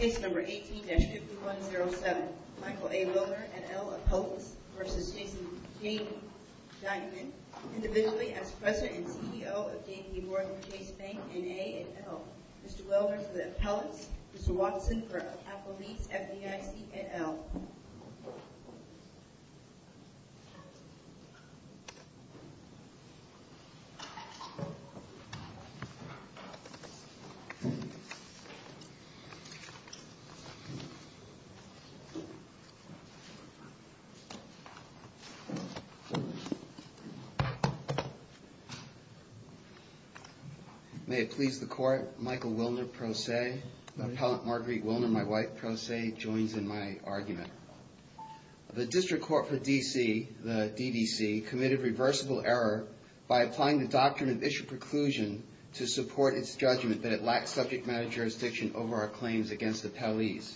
18-5107 Michael A. Willner, N.L. Appellants v. Jason J. Dimon Individually as President and CEO of J.P. Morgan Chase Bank, N.A. and L. Mr. Willner for the Appellants, Mr. Watson for Appellate Leads, FDIC and L. May it please the Court, Michael Willner, Pro Se, Appellant Marguerite Willner, my wife, Pro Se, joins in my argument. The District Court for D.C., the D.D.C., committed reversible error by applying the Doctrine of Issued Preclusion to support its judgment that it lacks subject matter jurisdiction over our claims against Appellees.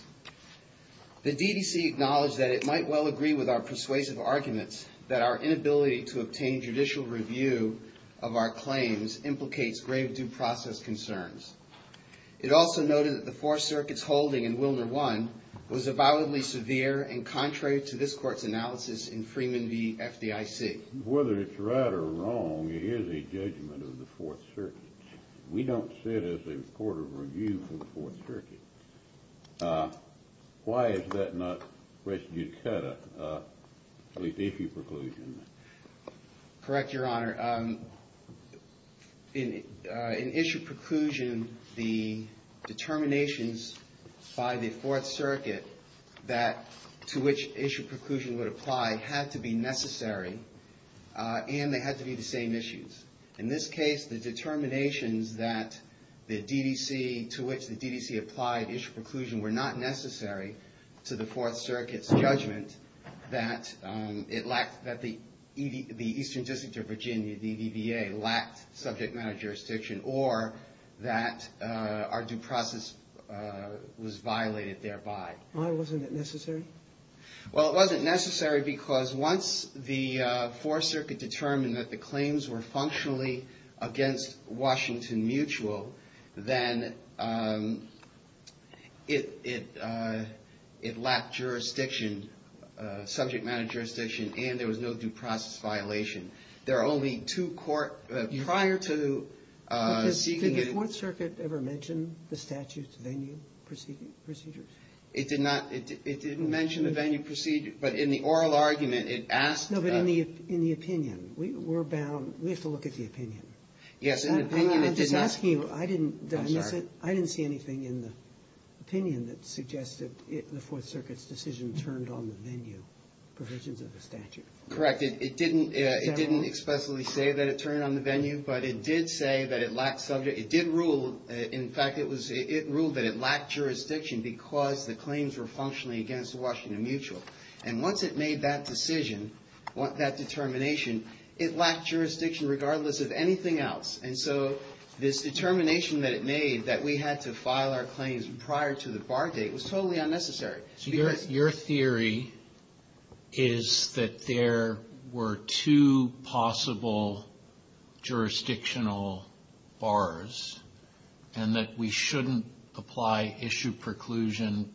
The D.D.C. acknowledged that it might well agree with our persuasive arguments that our inability to obtain judicial review of our claims implicates grave due process concerns. It also noted that the Fourth Circuit's holding in Willner 1 was avowedly severe and contrary to this Court's analysis in Freeman v. FDIC. Whether it's right or wrong, it is a judgment of the Fourth Circuit. We don't see it as a court of review for the Fourth Circuit. Why is that not res judicata, at least issue preclusion? Correct, Your Honor. In issue preclusion, the determinations by the Fourth Circuit that to which issue preclusion would apply had to be necessary and they had to be the same issues. In this case, the determinations that the D.D.C., to which the D.D.C. applied issue preclusion were not necessary to the Fourth Circuit's judgment that it lacked, that the Eastern District of Virginia, the EVA, lacked subject matter jurisdiction or that our due process was violated thereby. Why wasn't it necessary? Well, it wasn't necessary because once the Fourth Circuit determined that the claims were functionally against Washington Mutual, then it lacked jurisdiction, subject matter jurisdiction, and there was no due process violation. There are only two court, prior to seeking it. Did the Fourth Circuit ever mention the statute's venue procedures? It did not. It didn't mention the venue procedure. But in the oral argument, it asked the ---- No, but in the opinion. We're bound. We have to look at the opinion. Yes. In the opinion, it didn't ---- I'm just asking you. I didn't ---- I'm sorry. I didn't see anything in the opinion that suggested the Fourth Circuit's decision turned on the venue provisions of the statute. Correct. It didn't ---- Is that wrong? It didn't expressly say that it turned on the venue, but it did say that it lacked subject ---- It did rule, in fact, it ruled that it lacked jurisdiction because the claims were functionally against Washington Mutual. And once it made that decision, that determination, it lacked jurisdiction regardless of anything else. And so this determination that it made that we had to file our claims prior to the bar date was totally unnecessary. Your theory is that there were two possible jurisdictional bars and that we shouldn't apply issue preclusion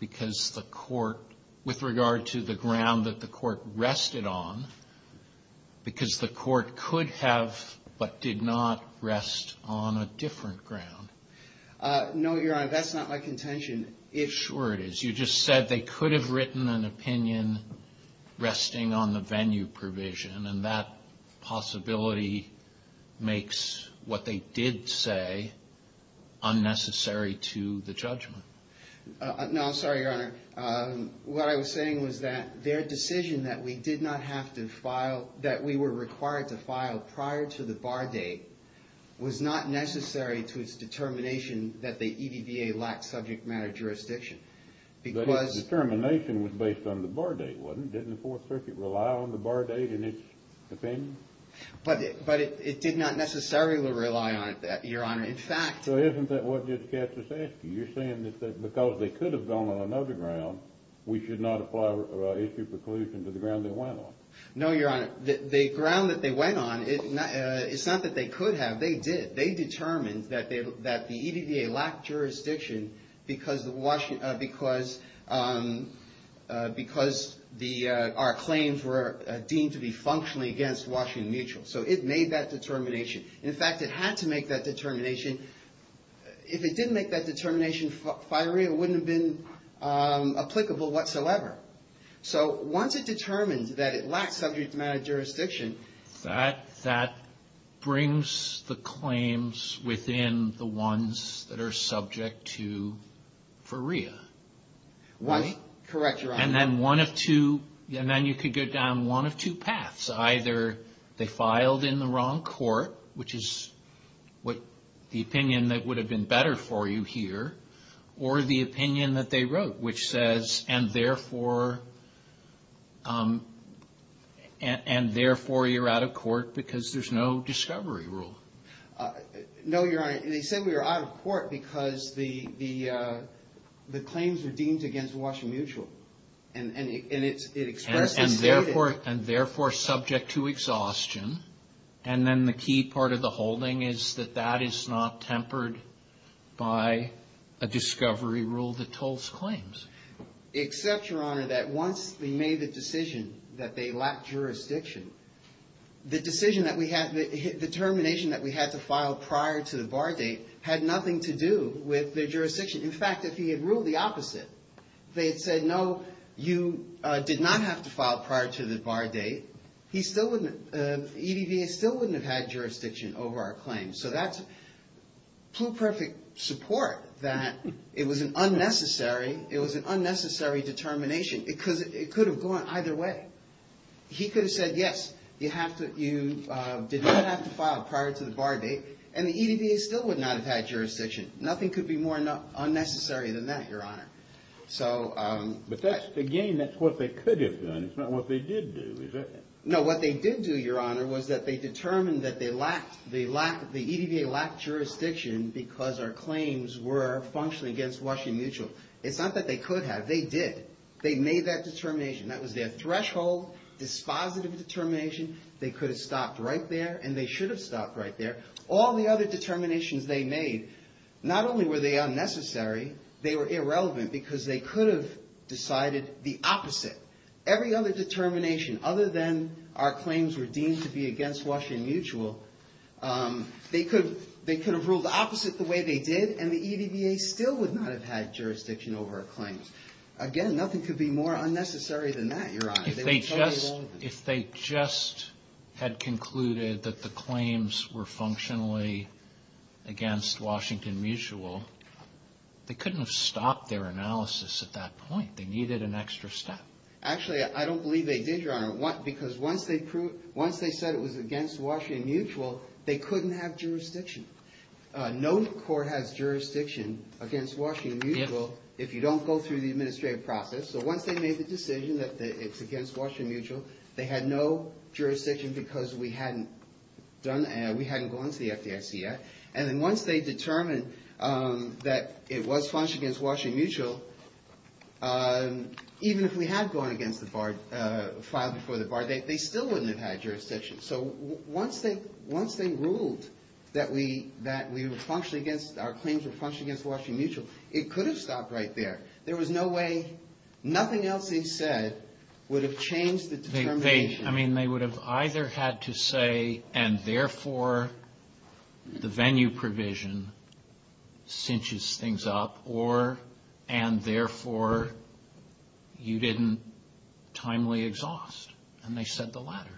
because the court ---- with regard to the ground that the court rested on, because the court could have but did not rest on a different ground. No, Your Honor. That's not my contention. Sure it is. You just said they could have written an opinion resting on the venue provision, and that possibility makes what they did say unnecessary to the judgment. No, I'm sorry, Your Honor. What I was saying was that their decision that we did not have to file, that we were required to file prior to the bar date, was not necessary to its determination that the EDVA lacked subject matter jurisdiction. But its determination was based on the bar date, wasn't it? Didn't the Fourth Circuit rely on the bar date in its opinion? But it did not necessarily rely on it, Your Honor. So isn't that what Judge Katz is asking? You're saying that because they could have gone on another ground, we should not apply issue preclusion to the ground they went on? No, Your Honor. The ground that they went on, it's not that they could have. They did. They determined that the EDVA lacked jurisdiction because our claims were deemed to be functionally against Washington Mutual. So it made that determination. In fact, it had to make that determination. If it didn't make that determination, FIREA wouldn't have been applicable whatsoever. So once it determines that it lacks subject matter jurisdiction, that brings the claims within the ones that are subject to FIREA. Correct, Your Honor. And then you could go down one of two paths. Either they filed in the wrong court, which is the opinion that would have been better for you here, or the opinion that they wrote, which says, and therefore you're out of court because there's no discovery rule. No, Your Honor. They said we were out of court because the claims were deemed against Washington Mutual. And it expressly stated. And therefore subject to exhaustion. And then the key part of the holding is that that is not tempered by a discovery rule that tolls claims. Except, Your Honor, that once they made the decision that they lacked jurisdiction, the determination that we had to file prior to the bar date had nothing to do with the jurisdiction. In fact, if he had ruled the opposite, they had said, no, you did not have to file prior to the bar date, EDVA still wouldn't have had jurisdiction over our claims. So that's pluperfect support that it was an unnecessary determination because it could have gone either way. He could have said, yes, you did not have to file prior to the bar date, and the EDVA still would not have had jurisdiction. Nothing could be more unnecessary than that, Your Honor. But again, that's what they could have done. It's not what they did do, is it? No, what they did do, Your Honor, was that they determined that the EDVA lacked jurisdiction because our claims were functionally against Washington Mutual. It's not that they could have. They did. They made that determination. That was their threshold, dispositive determination. They could have stopped right there, and they should have stopped right there. All the other determinations they made, not only were they unnecessary, they were irrelevant because they could have decided the opposite. Every other determination other than our claims were deemed to be against Washington Mutual, they could have ruled opposite the way they did, and the EDVA still would not have had jurisdiction over our claims. Again, nothing could be more unnecessary than that, Your Honor. If they just had concluded that the claims were functionally against Washington Mutual, they couldn't have stopped their analysis at that point. They needed an extra step. Actually, I don't believe they did, Your Honor, because once they said it was against Washington Mutual, they couldn't have jurisdiction. No court has jurisdiction against Washington Mutual if you don't go through the administrative process. So once they made the decision that it's against Washington Mutual, they had no jurisdiction because we hadn't gone to the FDIC yet. And then once they determined that it was functionally against Washington Mutual, even if we had gone against the bar, filed before the bar, they still wouldn't have had jurisdiction. So once they ruled that we were functionally against, our claims were functionally against Washington Mutual, it could have stopped right there. There was no way, nothing else they said would have changed the determination. I mean, they would have either had to say, and therefore, the venue provision cinches things up, or, and therefore, you didn't timely exhaust. And they said the latter.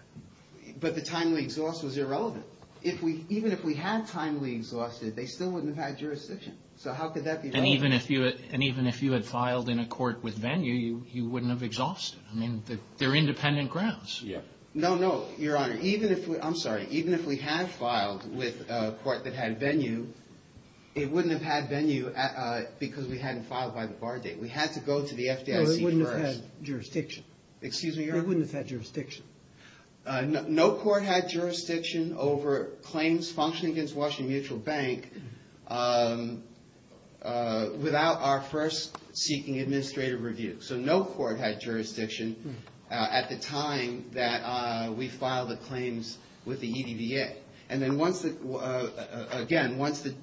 But the timely exhaust was irrelevant. Even if we had timely exhausted, they still wouldn't have had jurisdiction. So how could that be relevant? And even if you had filed in a court with venue, you wouldn't have exhausted. I mean, they're independent grounds. Yeah. No, no, Your Honor. Even if we, I'm sorry, even if we had filed with a court that had venue, it wouldn't have had venue because we hadn't filed by the bar date. We had to go to the FDIC first. No, it wouldn't have had jurisdiction. Excuse me, Your Honor? It wouldn't have had jurisdiction. No court had jurisdiction over claims functioning against Washington Mutual Bank without our first seeking administrative review. So no court had jurisdiction at the time that we filed the claims with the EDDA. And then once the, again, once the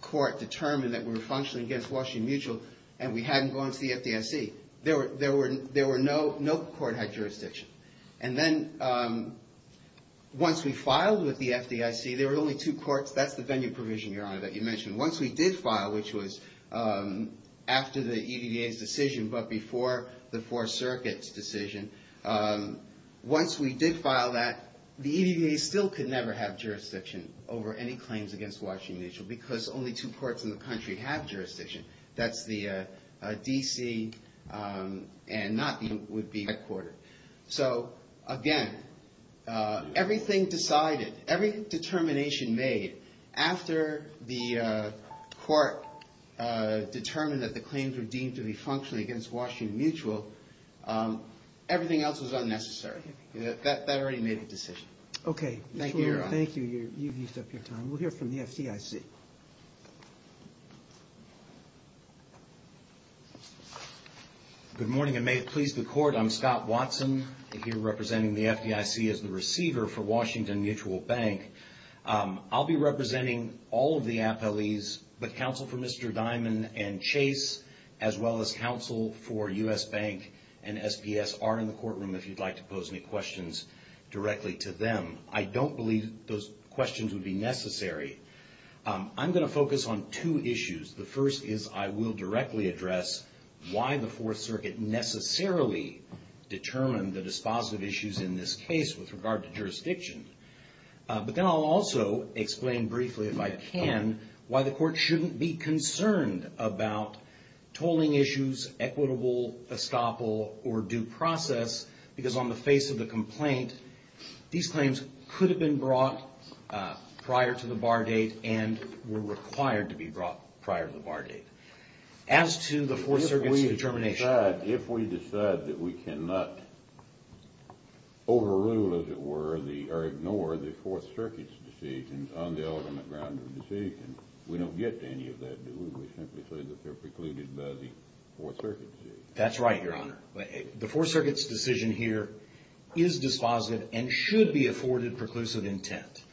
court determined that we were functioning against Washington Mutual and we hadn't gone to the FDIC, there were no, no court had jurisdiction. And then once we filed with the FDIC, there were only two courts, that's the venue provision, Your Honor, that you mentioned. Once we did file, which was after the EDDA's decision but before the Fourth Circuit's decision, once we did file that, the EDDA still could never have jurisdiction over any claims against Washington Mutual because only two courts in the country have jurisdiction. That's the D.C. and not the would-be headquarter. So, again, everything decided, every determination made, after the court determined that the claims were deemed to be functioning against Washington Mutual, everything else was unnecessary. That already made a decision. Okay. Thank you, Your Honor. Thank you. You've used up your time. We'll hear from the FDIC. Good morning, and may it please the Court, I'm Scott Watson. I'm here representing the FDIC as the receiver for Washington Mutual Bank. I'll be representing all of the appellees, but counsel for Mr. Diamond and Chase, as well as counsel for U.S. Bank and SPS are in the courtroom if you'd like to pose any questions directly to them. I don't believe those questions would be necessary. I'm going to focus on two issues. The first is I will directly address why the Fourth Circuit necessarily determined the dispositive issues in this case with regard to jurisdiction. But then I'll also explain briefly, if I can, why the Court shouldn't be concerned about tolling issues, equitable estoppel, or due process, because on the face of the complaint, these claims could have been brought prior to the bar date and were required to be brought prior to the bar date. As to the Fourth Circuit's determination. If we decide that we cannot overrule, as it were, or ignore the Fourth Circuit's decision on the ultimate ground of the decision, we don't get to any of that, do we? We simply say that they're precluded by the Fourth Circuit's decision. That's right, Your Honor. The Fourth Circuit's decision here is dispositive and should be afforded preclusive intent.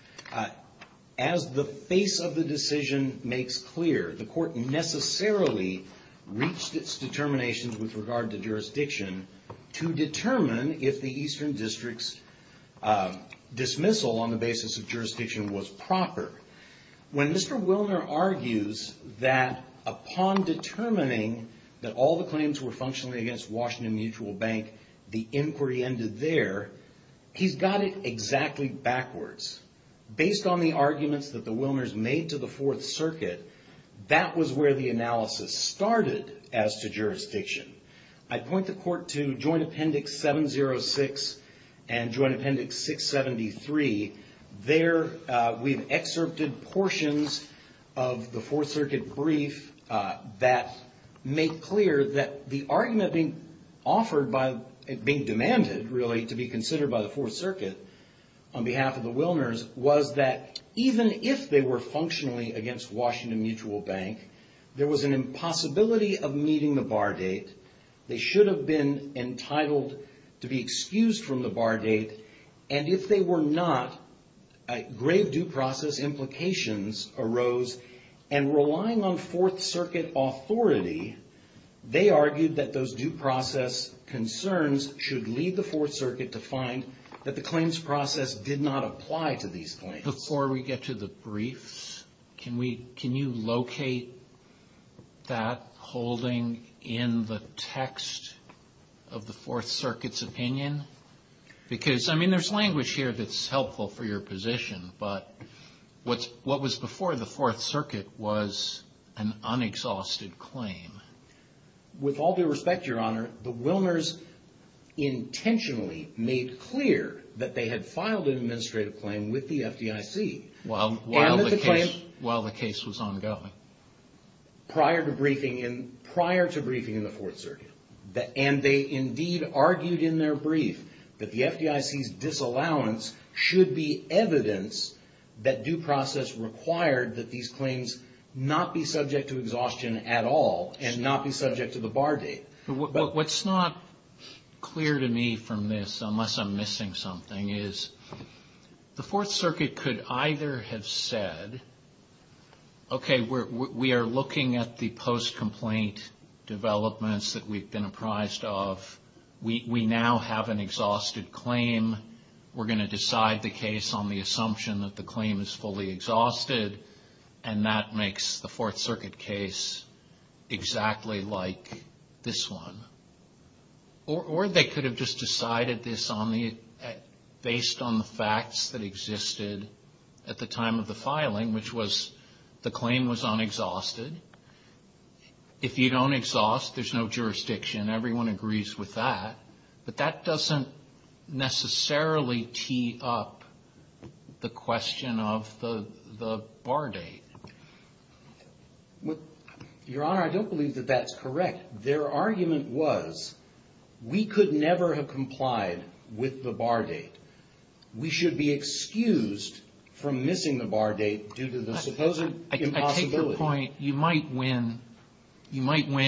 As the face of the decision makes clear, the Court necessarily reached its determination with regard to jurisdiction to determine if the Eastern District's dismissal on the basis of jurisdiction was proper. When Mr. Wilner argues that upon determining that all the claims were functionally against Washington Mutual Bank, the inquiry ended there, he's got it exactly backwards. Based on the arguments that the Wilners made to the Fourth Circuit, that was where the analysis started as to jurisdiction. I point the Court to Joint Appendix 706 and Joint Appendix 673. There, we've excerpted portions of the Fourth Circuit brief that make clear that the argument being demanded, really, to be considered by the Fourth Circuit on behalf of the Wilners was that even if they were functionally against Washington Mutual Bank, there was an impossibility of meeting the bar date. They should have been entitled to be excused from the bar date. And if they were not, grave due process implications arose. And relying on Fourth Circuit authority, they argued that those due process concerns should lead the Fourth Circuit to find that the claims process did not apply to these claims. Before we get to the briefs, can you locate that holding in the text of the Fourth Circuit's opinion? Because, I mean, there's language here that's helpful for your position, but what was before the Fourth Circuit was an unexhausted claim. With all due respect, Your Honor, the Wilners intentionally made clear that they had filed an administrative claim with the FDIC. While the case was ongoing. Prior to briefing in the Fourth Circuit. And they indeed argued in their brief that the FDIC's disallowance should be evidence that due process required that these claims not be subject to exhaustion at all and not be subject to the bar date. What's not clear to me from this, unless I'm missing something, is the Fourth Circuit could either have said, okay, we are looking at the post-complaint developments that we've been apprised of. We now have an exhausted claim. We're going to decide the case on the assumption that the claim is fully exhausted. And that makes the Fourth Circuit case exactly like this one. Or they could have just decided this based on the facts that existed at the time of the filing, which was the claim was unexhausted. If you don't exhaust, there's no jurisdiction. Everyone agrees with that. But that doesn't necessarily tee up the question of the bar date. Your Honor, I don't believe that that's correct. Their argument was we could never have complied with the bar date. We should be excused from missing the bar date due to the supposed impossibility. I take your point. You might win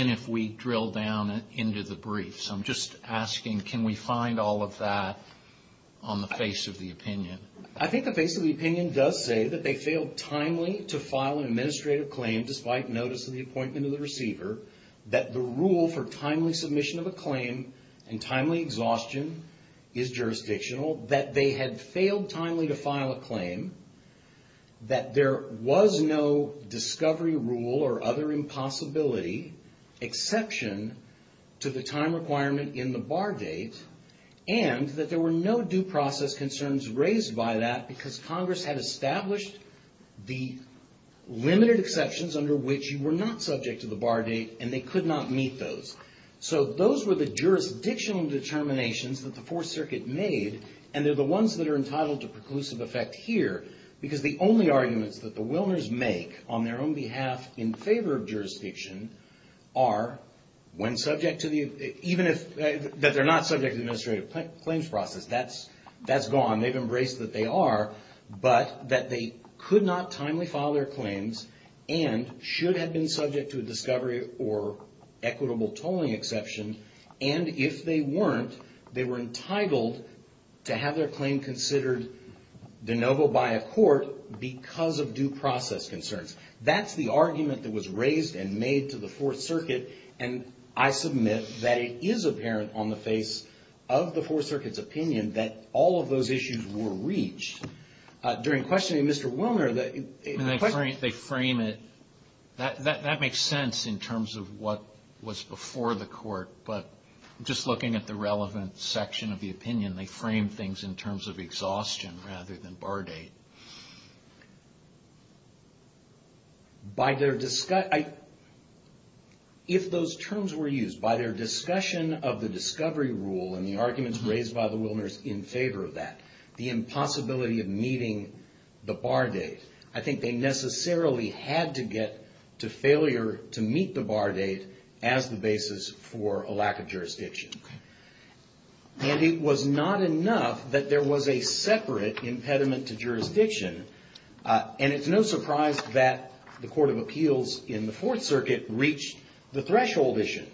if we drill down into the brief. So I'm just asking, can we find all of that on the face of the opinion? I think the face of the opinion does say that they failed timely to file an administrative claim despite notice of the appointment of the receiver, that the rule for timely submission of a claim and timely exhaustion is jurisdictional, that they had failed timely to file a claim, that there was no discovery rule or other impossibility exception to the time requirement in the bar date, and that there were no due process concerns raised by that because Congress had established the limited exceptions under which you were not subject to the bar date and they could not meet those. So those were the jurisdictional determinations that the Fourth Circuit made, and they're the ones that are entitled to preclusive effect here because the only arguments that the Wilmers make on their own behalf in favor of jurisdiction are, when subject to the, even if, that they're not subject to the administrative claims process, that's gone. They've embraced that they are, but that they could not timely file their claims and should have been subject to a discovery or equitable tolling exception, and if they weren't, they were entitled to have their claim considered de novo by a court because of due process concerns. That's the argument that was raised and made to the Fourth Circuit, and I submit that it is apparent on the face of the Fourth Circuit's opinion that all of those issues were reached. During questioning Mr. Wilner, the question... They frame it. That makes sense in terms of what was before the court, but just looking at the relevant section of the opinion, they frame things in terms of exhaustion rather than bar date. If those terms were used, by their discussion of the discovery rule and the arguments raised by the Wilners in favor of that, the impossibility of meeting the bar date, I think they necessarily had to get to failure to meet the bar date as the basis for a lack of jurisdiction, and it was not enough that there was a separate impediment to jurisdiction, and it's no surprise that the Court of Appeals in the Fourth Circuit reached the threshold issue.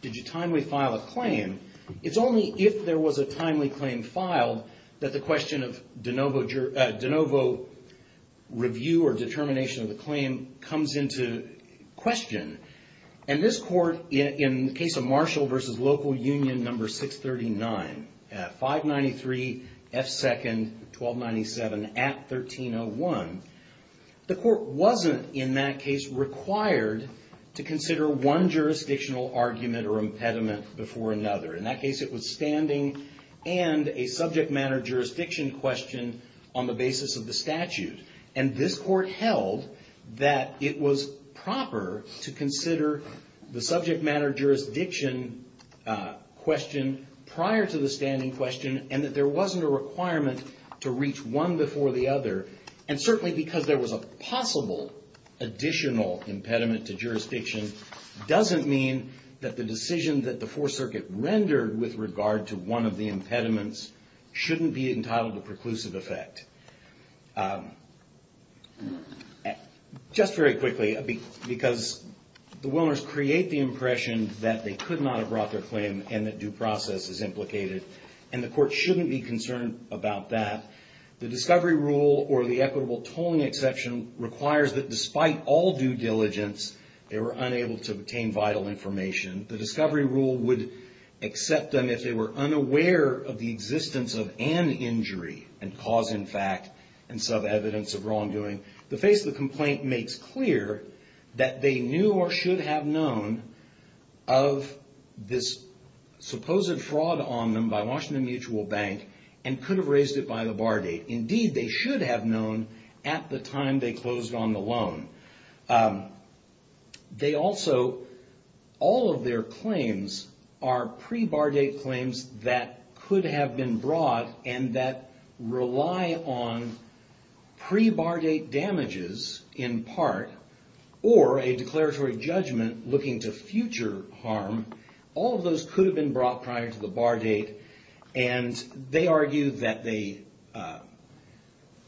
Did you timely file a claim? It's only if there was a timely claim filed that the question of de novo review or determination of the claim comes into question, and this Court, in the case of Marshall v. Local Union No. 639, at 593 F. 2nd, 1297, at 1301, the court wasn't in that case required to consider one jurisdictional argument or impediment before another. In that case, it was standing and a subject matter jurisdiction question on the basis of the statute, and this court held that it was proper to consider the subject matter jurisdiction question prior to the standing question and that there wasn't a requirement to reach one before the other and certainly because there was a possible additional impediment to jurisdiction doesn't mean that the decision that the Fourth Circuit rendered with regard to one of the impediments shouldn't be entitled to preclusive effect. Just very quickly, because the Willners create the impression that they could not have brought their claim and that due process is implicated and the court shouldn't be concerned about that, the discovery rule or the equitable tolling exception requires that despite all due diligence, they were unable to obtain vital information. The discovery rule would accept them if they were unaware of the existence of an injury and cause, in fact, and some evidence of wrongdoing. The face of the complaint makes clear that they knew or should have known of this supposed fraud on them by Washington Mutual Bank and could have raised it by the bar date. Indeed, they should have known at the time they closed on the loan. They also, all of their claims are pre-bar date claims that could have been brought and that rely on pre-bar date damages in part or a declaratory judgment looking to future harm. All of those could have been brought prior to the bar date and they argue that they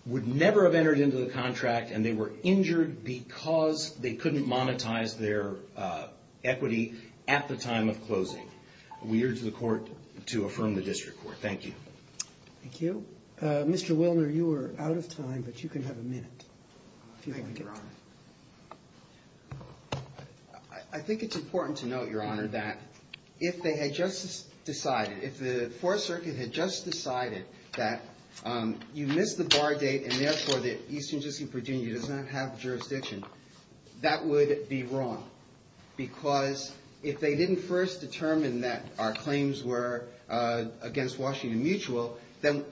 would never have entered into the contract and they were injured because they couldn't monetize their equity at the time of closing. We urge the court to affirm the district court. Thank you. Thank you. Mr. Willner, you are out of time, but you can have a minute. Thank you, Your Honor. I think it's important to note, Your Honor, that if they had just decided, if the Fourth Circuit had just decided that you missed the bar date and therefore the Eastern District of Virginia does not have jurisdiction, that would be wrong because if they didn't first determine that our claims were against Washington Mutual, then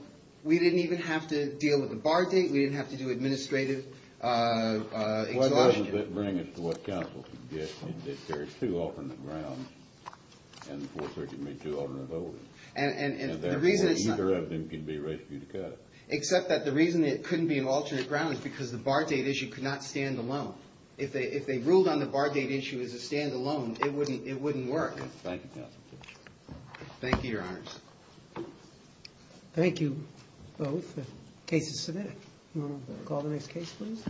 we didn't even have to deal with the bar date, we didn't have to do administrative exhaustion. Why doesn't that bring us to what counsel suggested, that there are two alternate grounds and the Fourth Circuit made two alternate votes. And the reason it's not... And therefore, either of them could be rescued. Except that the reason it couldn't be an alternate ground is because the bar date issue could not stand alone. If they ruled on the bar date issue as a standalone, it wouldn't work. Thank you, counsel. Thank you, Your Honors. Thank you both. The case is submitted. You want to call the next case, please?